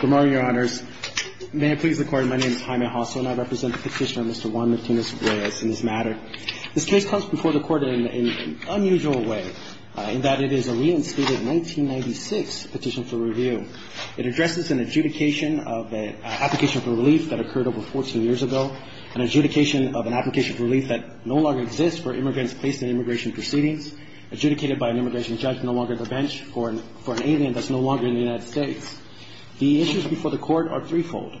Good morning, Your Honors. May I please record, my name is Jaime Hosso, and I represent the petitioner Mr. Juan Martinez-Reyes in this matter. This case comes before the Court in an unusual way, in that it is a reinstated 1996 petition for review. It addresses an adjudication of an application for relief that occurred over 14 years ago, an adjudication of an application for relief that no longer exists for immigrants placed in immigration proceedings, adjudicated by an immigration judge no longer at the bench, or for an alien that's no longer in the United States. The issues before the Court are threefold.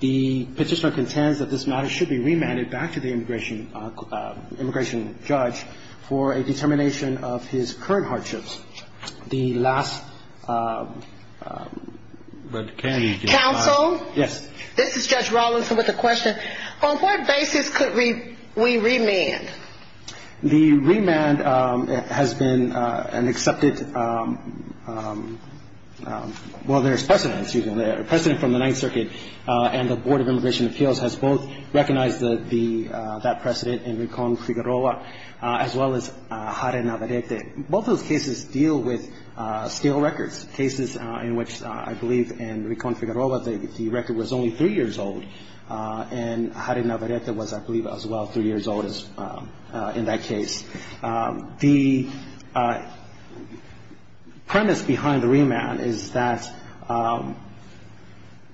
The petitioner contends that this matter should be remanded back to the immigration judge for a determination of his current hardships. The last... Counsel? Yes. This is Judge Rawlinson with a question. On what basis could we remand? The remand has been an accepted... Well, there's precedent, excuse me. A precedent from the Ninth Circuit and the Board of Immigration Appeals has both recognized that precedent in Ricon-Figueroa as well as Jare Navarrete. Both of those cases deal with scale records, cases in which I believe in Ricon-Figueroa the record was only three years old, and Jare Navarrete was, I believe, as well three years old in that case. The premise behind the remand is that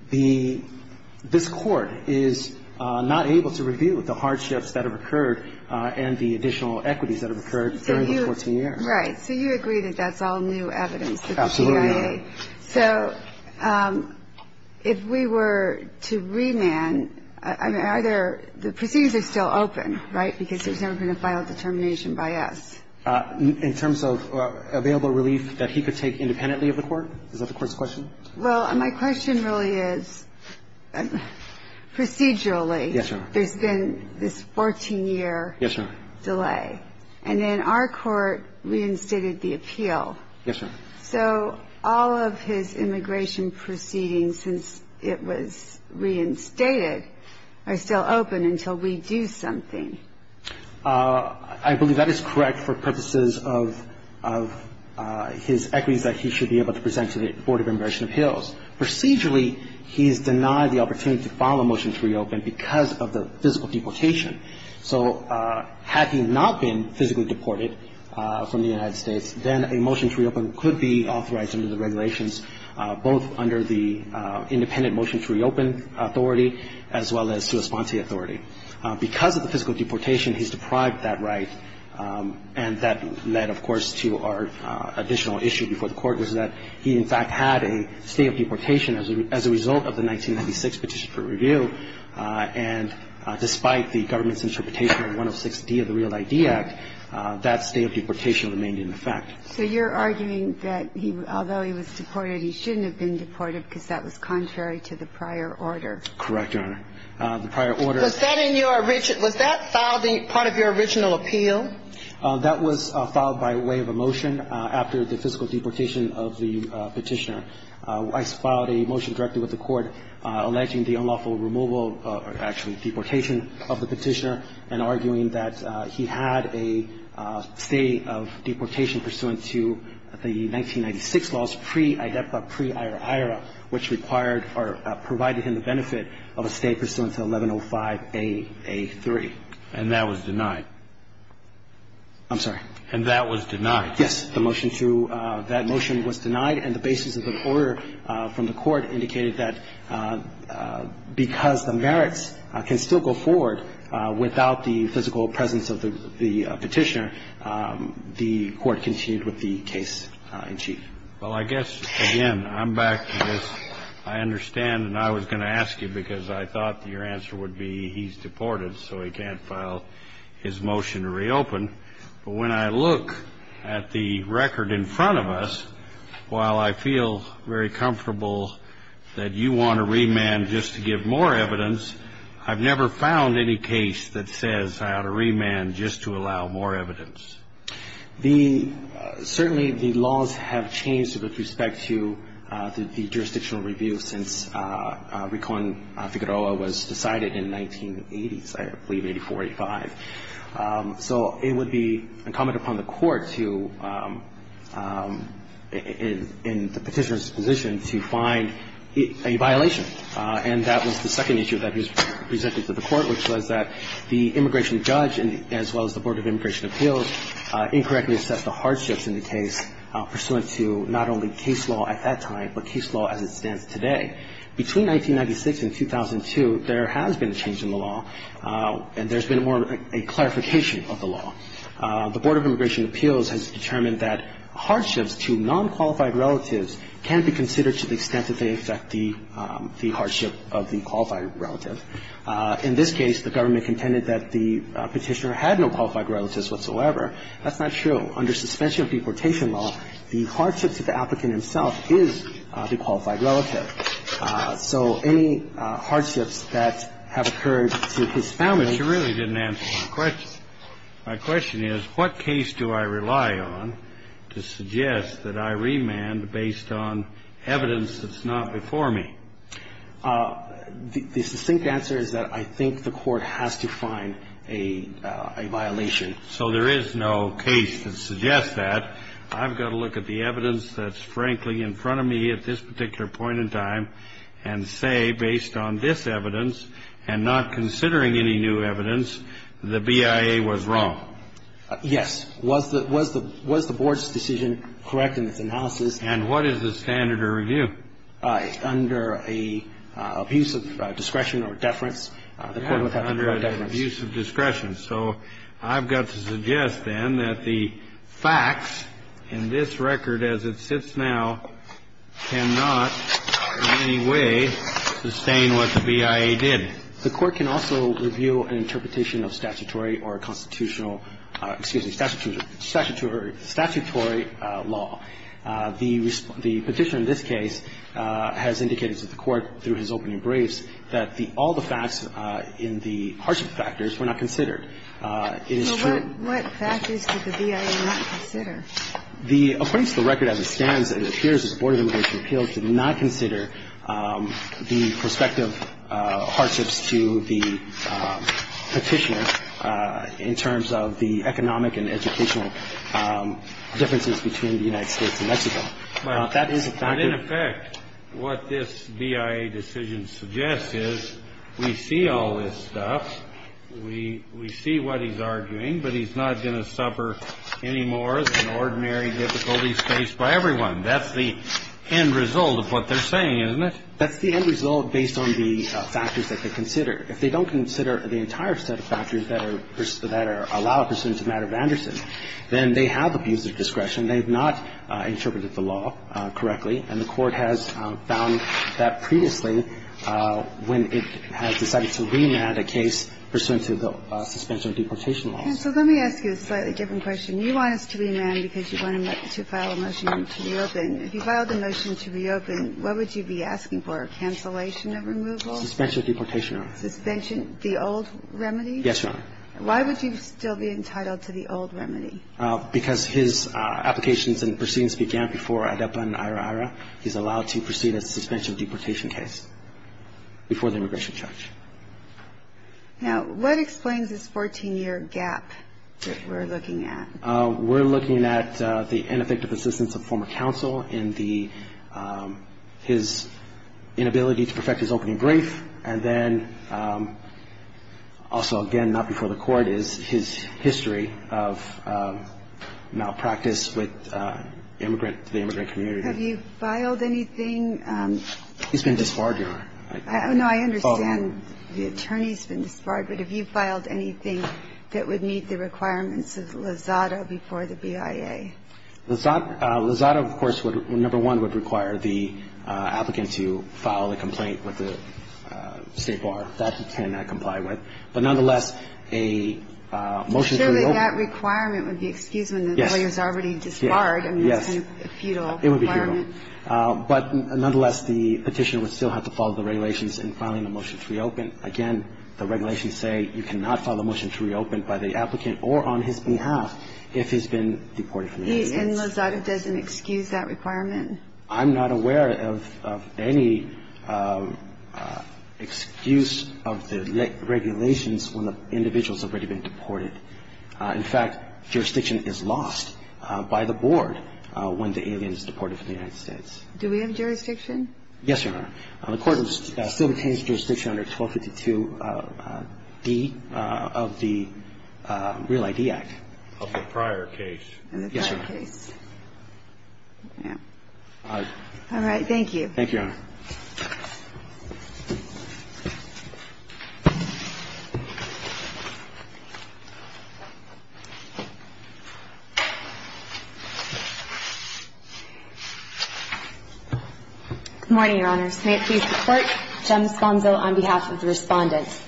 this Court is not able to review the hardships that have occurred and the additional equities that have occurred during the 14 years. Right. So you agree that that's all new evidence that the CIA... Absolutely. Okay. So if we were to remand, I mean, are there – the proceedings are still open, right, because there's never been a final determination by us? In terms of available relief that he could take independently of the Court? Is that the Court's question? Well, my question really is procedurally... Yes, Your Honor. ...there's been this 14-year delay. Yes, Your Honor. Yes, Your Honor. So all of his immigration proceedings since it was reinstated are still open until we do something? I believe that is correct for purposes of his equities that he should be able to present to the Board of Immigration Appeals. Procedurally, he's denied the opportunity to file a motion to reopen because of the physical deportation. So had he not been physically deported from the United States, then a motion to reopen could be authorized under the regulations, both under the independent motion to reopen authority as well as sua sponte authority. Because of the physical deportation, he's deprived that right. And that led, of course, to our additional issue before the Court was that he, in fact, had a state of deportation as a result of the 1996 Petition for Review. And despite the government's interpretation of 106D of the REAL ID Act, that state of deportation remained in effect. So you're arguing that although he was deported, he shouldn't have been deported because that was contrary to the prior order? Correct, Your Honor. The prior order... Was that in your original... Was that part of your original appeal? That was filed by way of a motion after the physical deportation of the petitioner. I filed a motion directly with the Court alleging the unlawful removal or actually deportation of the petitioner and arguing that he had a state of deportation pursuant to the 1996 laws, pre-IDEPA, pre-IRA, IRA, which required or provided him the benefit of a state pursuant to 1105A, A3. And that was denied? I'm sorry. And that was denied? Yes. The motion to that motion was denied, and the basis of the order from the Court indicated that because the merits can still go forward without the physical presence of the petitioner, the Court continued with the case in chief. Well, I guess, again, I'm back to this. I understand, and I was going to ask you because I thought your answer would be he's deported, so he can't file his motion to reopen. But when I look at the record in front of us, while I feel very comfortable that you want to remand just to give more evidence, I've never found any case that says I ought to remand just to allow more evidence. Certainly the laws have changed with respect to the jurisdictional review since Recon Figueroa was decided in the 1980s, I believe, 84, 85. So it would be incumbent upon the Court to, in the petitioner's position, to find a violation. And that was the second issue that was presented to the Court, which was that the immigration judge as well as the Board of Immigration Appeals incorrectly assessed the hardships in the case pursuant to not only case law at that time but case law as it stands today. Between 1996 and 2002, there has been a change in the law, and there's been more of a clarification of the law. The Board of Immigration Appeals has determined that hardships to nonqualified relatives can be considered to the extent that they affect the hardship of the qualified relative. In this case, the government contended that the petitioner had no qualified relatives whatsoever. That's not true. Under suspension of deportation law, the hardships of the applicant himself is the qualified relative. So any hardships that have occurred to his family ---- But you really didn't answer my question. My question is, what case do I rely on to suggest that I remand based on evidence that's not before me? The succinct answer is that I think the Court has to find a violation. So there is no case that suggests that. I've got to look at the evidence that's, frankly, in front of me at this particular point in time and say, based on this evidence and not considering any new evidence, the BIA was wrong. Yes. Was the Board's decision correct in its analysis? And what is the standard of review? Under an abuse of discretion or deference, the Court would have to defer deference. An abuse of discretion. So I've got to suggest, then, that the facts in this record as it sits now cannot in any way sustain what the BIA did. The Court can also review an interpretation of statutory or constitutional ---- excuse me, statutory law. The petitioner in this case has indicated to the Court through his opening briefs that all the facts in the hardship factors were not considered. It is true. So what factors did the BIA not consider? According to the record as it stands, it appears that the Board of Immigration Appeals did not consider the prospective hardships to the petitioner in terms of the economic and educational differences between the United States and Mexico. That is a fact. But in effect, what this BIA decision suggests is we see all this stuff, we see what he's arguing, but he's not going to suffer any more than ordinary difficulties faced by everyone. That's the end result of what they're saying, isn't it? That's the end result based on the factors that they consider. If they don't consider the entire set of factors that are allowed pursuant to Matter of Anderson, then they have abuse of discretion. They have not interpreted the law correctly, and the Court has found that previously when it has decided to remand a case pursuant to the suspension of deportation laws. And so let me ask you a slightly different question. You want us to remand because you want to file a motion to reopen. If you filed a motion to reopen, what would you be asking for, a cancellation of removal? Suspension of deportation, Your Honor. Suspension of the old remedy? Yes, Your Honor. Why would you still be entitled to the old remedy? Because his applications and proceedings began before ADEPA and IHRA. He's allowed to proceed a suspension of deportation case before the immigration charge. Now, what explains this 14-year gap that we're looking at? We're looking at the ineffective assistance of former counsel in his inability to perfect his opening brief, and then also, again, not before the Court, is his history of malpractice with the immigrant community. Have you filed anything? He's been disbarred, Your Honor. No, I understand the attorney's been disbarred, but have you filed anything that would meet the requirements of Lozada before the BIA? Lozada, of course, number one, would require the applicant to file a complaint with the State Bar. That he cannot comply with. But nonetheless, a motion to reopen. I'm sure that that requirement would be excused when the lawyer's already disbarred. Yes. I mean, that's kind of a futile requirement. It would be futile. But nonetheless, the Petitioner would still have to follow the regulations in filing a motion to reopen. Again, the regulations say you cannot file a motion to reopen by the applicant or on his behalf if he's been deported from the United States. And Lozada doesn't excuse that requirement? I'm not aware of any excuse of the regulations when the individual's already been deported. In fact, jurisdiction is lost by the Board when the alien is deported from the United States. Do we have jurisdiction? Yes, Your Honor. The Court still retains jurisdiction under 1252D of the Real ID Act. In the prior case. Yes, Your Honor. All right. Thank you. Thank you, Your Honor. Good morning, Your Honors. May it please the Court. Jem Sponzo on behalf of the Respondents.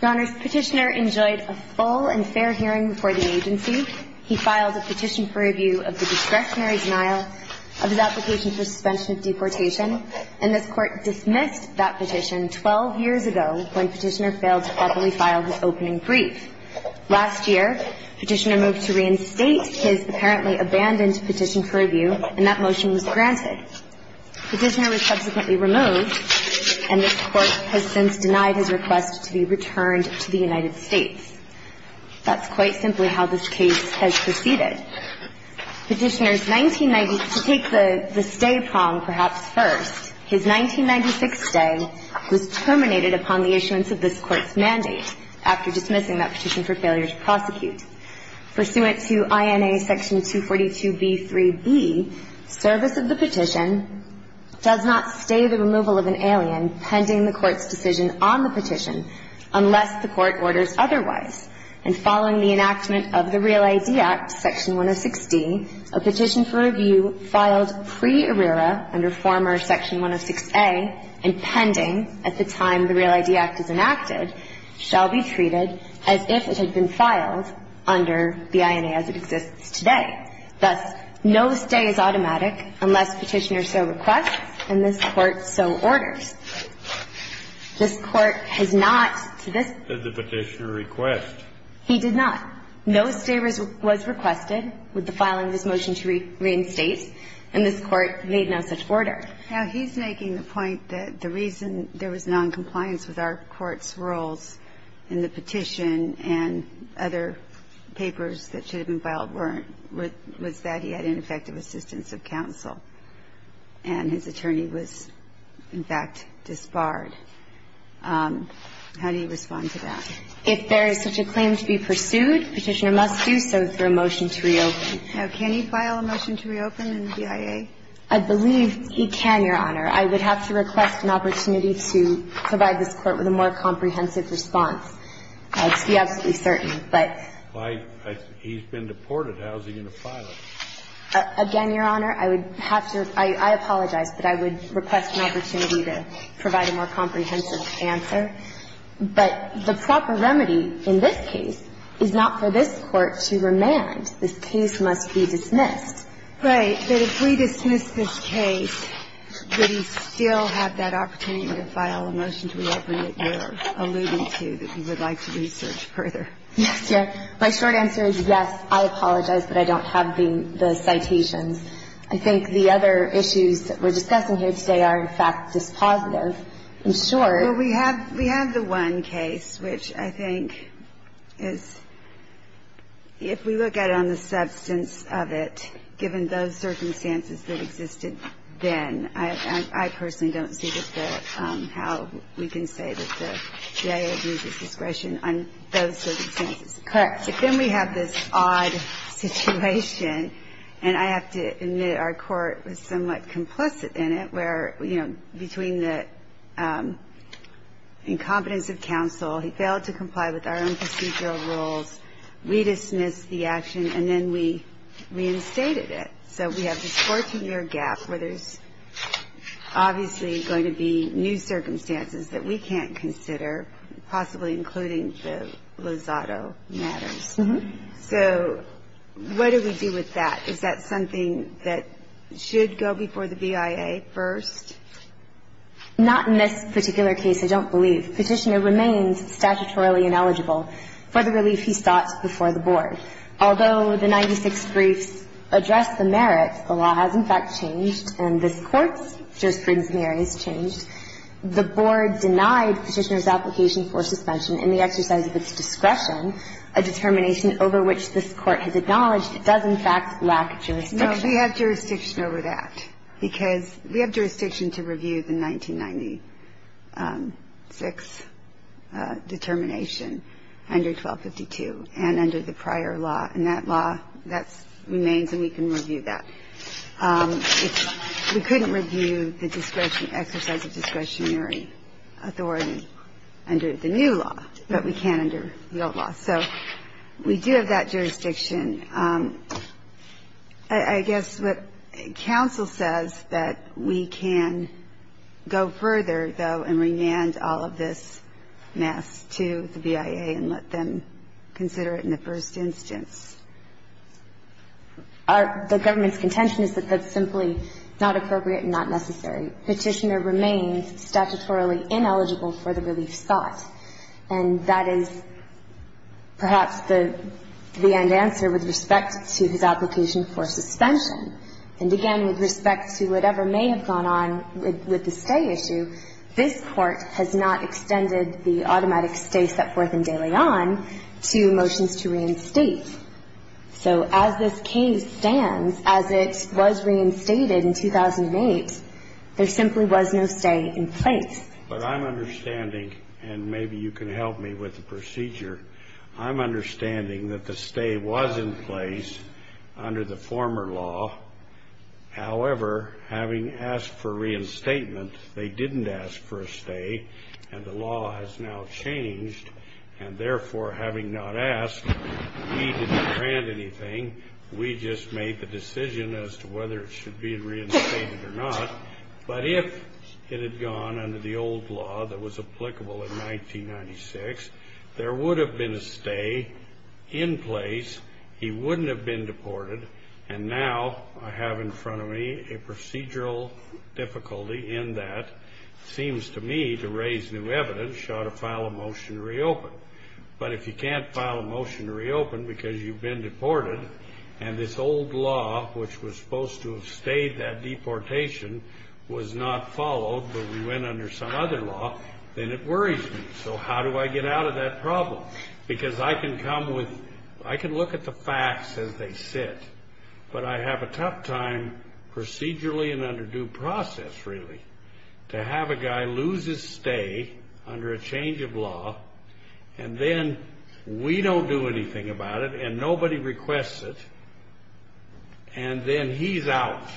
Your Honors, the Petitioner enjoyed a full and fair hearing before the agency. He filed a petition for review of the discretionary denial of his application for suspension of deportation, and this Court dismissed that petition 12 years ago when Petitioner failed to properly file his opening brief. Last year, Petitioner moved to reinstate his apparently abandoned petition for review, and that motion was granted. Petitioner was subsequently removed, and this Court has since denied his request to be returned to the United States. That's quite simply how this case has proceeded. Petitioner's 1990 to take the stay prong perhaps first, his 1996 stay was terminated upon the issuance of this Court's mandate after dismissing that petition for failure to prosecute. Pursuant to INA section 242b3b, service of the petition does not stay the removal of an alien pending the Court's decision on the petition unless the Court orders otherwise. And following the enactment of the Real ID Act, section 106d, a petition for review filed preerrera under former section 106a and pending at the time the Real ID Act is enacted shall be treated as if it had been filed under the INA as it exists today. Thus, no stay is automatic unless Petitioner so requests and this Court so orders. This Court has not to this point. And I'm not saying that Petitioner did not make a request. He did not. No stay was requested with the filing of this motion to reinstate, and this Court made no such order. Now, he's making the point that the reason there was noncompliance with our Court's rules in the petition and other papers that should have been filed weren't, was that he had ineffective assistance of counsel, and his attorney was, in fact, disbarred. How do you respond to that? If there is such a claim to be pursued, Petitioner must do so through a motion to reopen. Now, can he file a motion to reopen in the BIA? I believe he can, Your Honor. I would have to request an opportunity to provide this Court with a more comprehensive response. I'd be absolutely certain. He's been deported. How is he going to file it? Again, Your Honor, I would have to – I apologize, but I would request an opportunity to provide a more comprehensive answer. But the proper remedy in this case is not for this Court to remand. This case must be dismissed. Right. But if we dismiss this case, would he still have that opportunity to file a motion to reopen that you're alluding to, that you would like to research further? Yes, Your Honor. My short answer is yes. I apologize, but I don't have the citations. I think the other issues that we're discussing here today are, in fact, dispositive. In short – Well, we have the one case, which I think is – if we look at it on the substance of it, given those circumstances that existed then, I personally don't see just how we can say that the CIA abuses discretion on those circumstances. Correct. But then we have this odd situation, and I have to admit our Court was somewhat complicit in it, where, you know, between the incompetence of counsel, he failed to comply with our own procedural rules, we dismissed the action, and then we reinstated it. So we have this 14-year gap where there's obviously going to be new circumstances that we can't consider, possibly including the Lozado matters. So what do we do with that? Is that something that should go before the BIA first? Not in this particular case, I don't believe. I don't think the court has a jurisdiction over that. The only jurisdiction over it is if the petitioner remains statutorily ineligible for the relief he sought before the board. Although the 96 briefs addressed the merit, the law has, in fact, changed, and this Court's jurisprudence in the area has changed. We do have that jurisdiction. I guess what counsel says that we can go further, though, and remand all of this So we do have that jurisdiction. I guess what counsel says that we can go further, though, and remand all of this The government's contention is that that's simply not appropriate and not necessary. Petitioner remains statutorily ineligible for the relief sought, and that is perhaps the end answer with respect to his application for suspension. And, again, with respect to whatever may have gone on with the stay issue, this Court has not extended the automatic stay set forth in De Leon to motions to reinstate. So as this case stands, as it was reinstated in 2008, there simply was no stay in place. But I'm understanding, and maybe you can help me with the procedure, I'm understanding that the stay was in place under the former law. However, having asked for reinstatement, they didn't ask for a stay, and the law has now changed, and therefore, having not asked, we didn't grant anything. We just made the decision as to whether it should be reinstated or not. But if it had gone under the old law that was applicable in 1996, there would have been a stay in place, he wouldn't have been deported, and now I have in front of me a procedural difficulty in that. It seems to me, to raise new evidence, you ought to file a motion to reopen. But if you can't file a motion to reopen because you've been deported, and this old law, which was supposed to have stayed that deportation, was not followed, but we went under some other law, then it worries me. So how do I get out of that problem? Because I can come with, I can look at the facts as they sit, but I have a tough time procedurally and under due process, really, to have a guy lose his stay under a change of law, and then we don't do anything about it, and nobody requests it, and then he's out.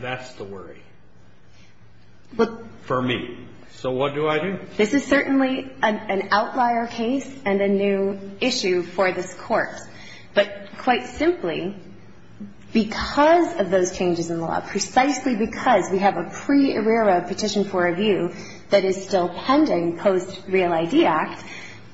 That's the worry for me. So what do I do? This is certainly an outlier case and a new issue for this Court. But quite simply, because of those changes in the law, precisely because we have a pre-arreara petition for review that is still pending post-Real ID Act,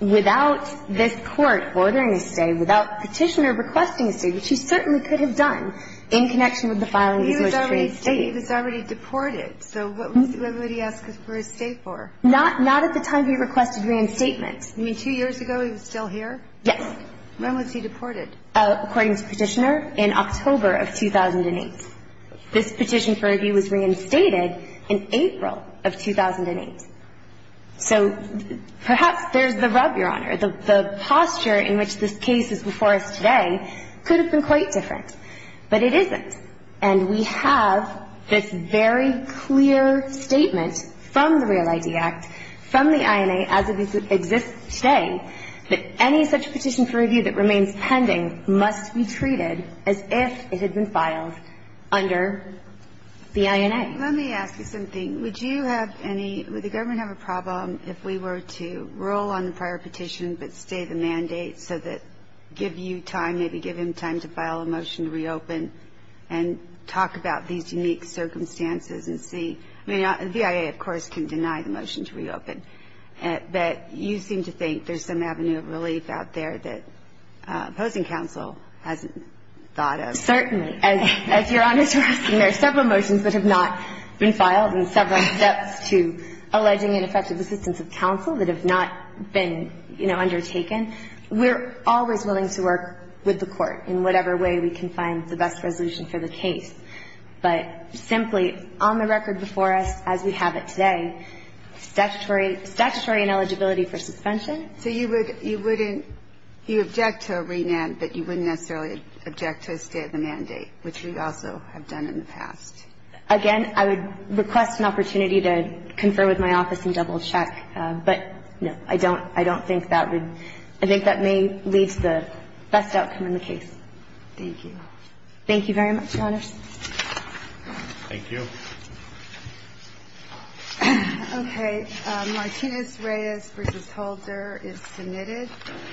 without this Court ordering a stay, without Petitioner requesting a stay, which he certainly could have done in connection with the filing of his first trade stay. He was already deported, so what would he ask for his stay for? Not at the time he requested reinstatement. You mean two years ago he was still here? Yes. When was he deported? According to Petitioner, in October of 2008. This petition for review was reinstated in April of 2008. So perhaps there's the rub, Your Honor. The posture in which this case is before us today could have been quite different, but it isn't. And we have this very clear statement from the Real ID Act, from the INA as it exists today, that any such petition for review that remains pending must be treated as if it had been filed under the INA. Let me ask you something. Would you have any – would the government have a problem if we were to roll on the prior petition but stay the mandate so that – give you time, maybe give him time to file a motion to reopen and talk about these unique circumstances and see – I mean, the BIA, of course, can deny the motion to reopen, but you seem to think there's some avenue of relief out there that opposing counsel hasn't thought of. Certainly. As Your Honor's asking, there are several motions that have not been filed and several steps to alleging ineffective assistance of counsel that have not been, you know, undertaken. We're always willing to work with the Court in whatever way we can find the best resolution for the case. But simply, on the record before us, as we have it today, statutory – statutory ineligibility for suspension. So you would – you wouldn't – you object to a remand, but you wouldn't necessarily object to a stay of the mandate, which you also have done in the past. Again, I would request an opportunity to confer with my office and double-check, but, no, I don't – I don't think that would – I think that may lead to the best outcome in the case. Thank you. Thank you very much, Your Honors. Thank you. Okay. Martinez-Reyes v. Holder is submitted.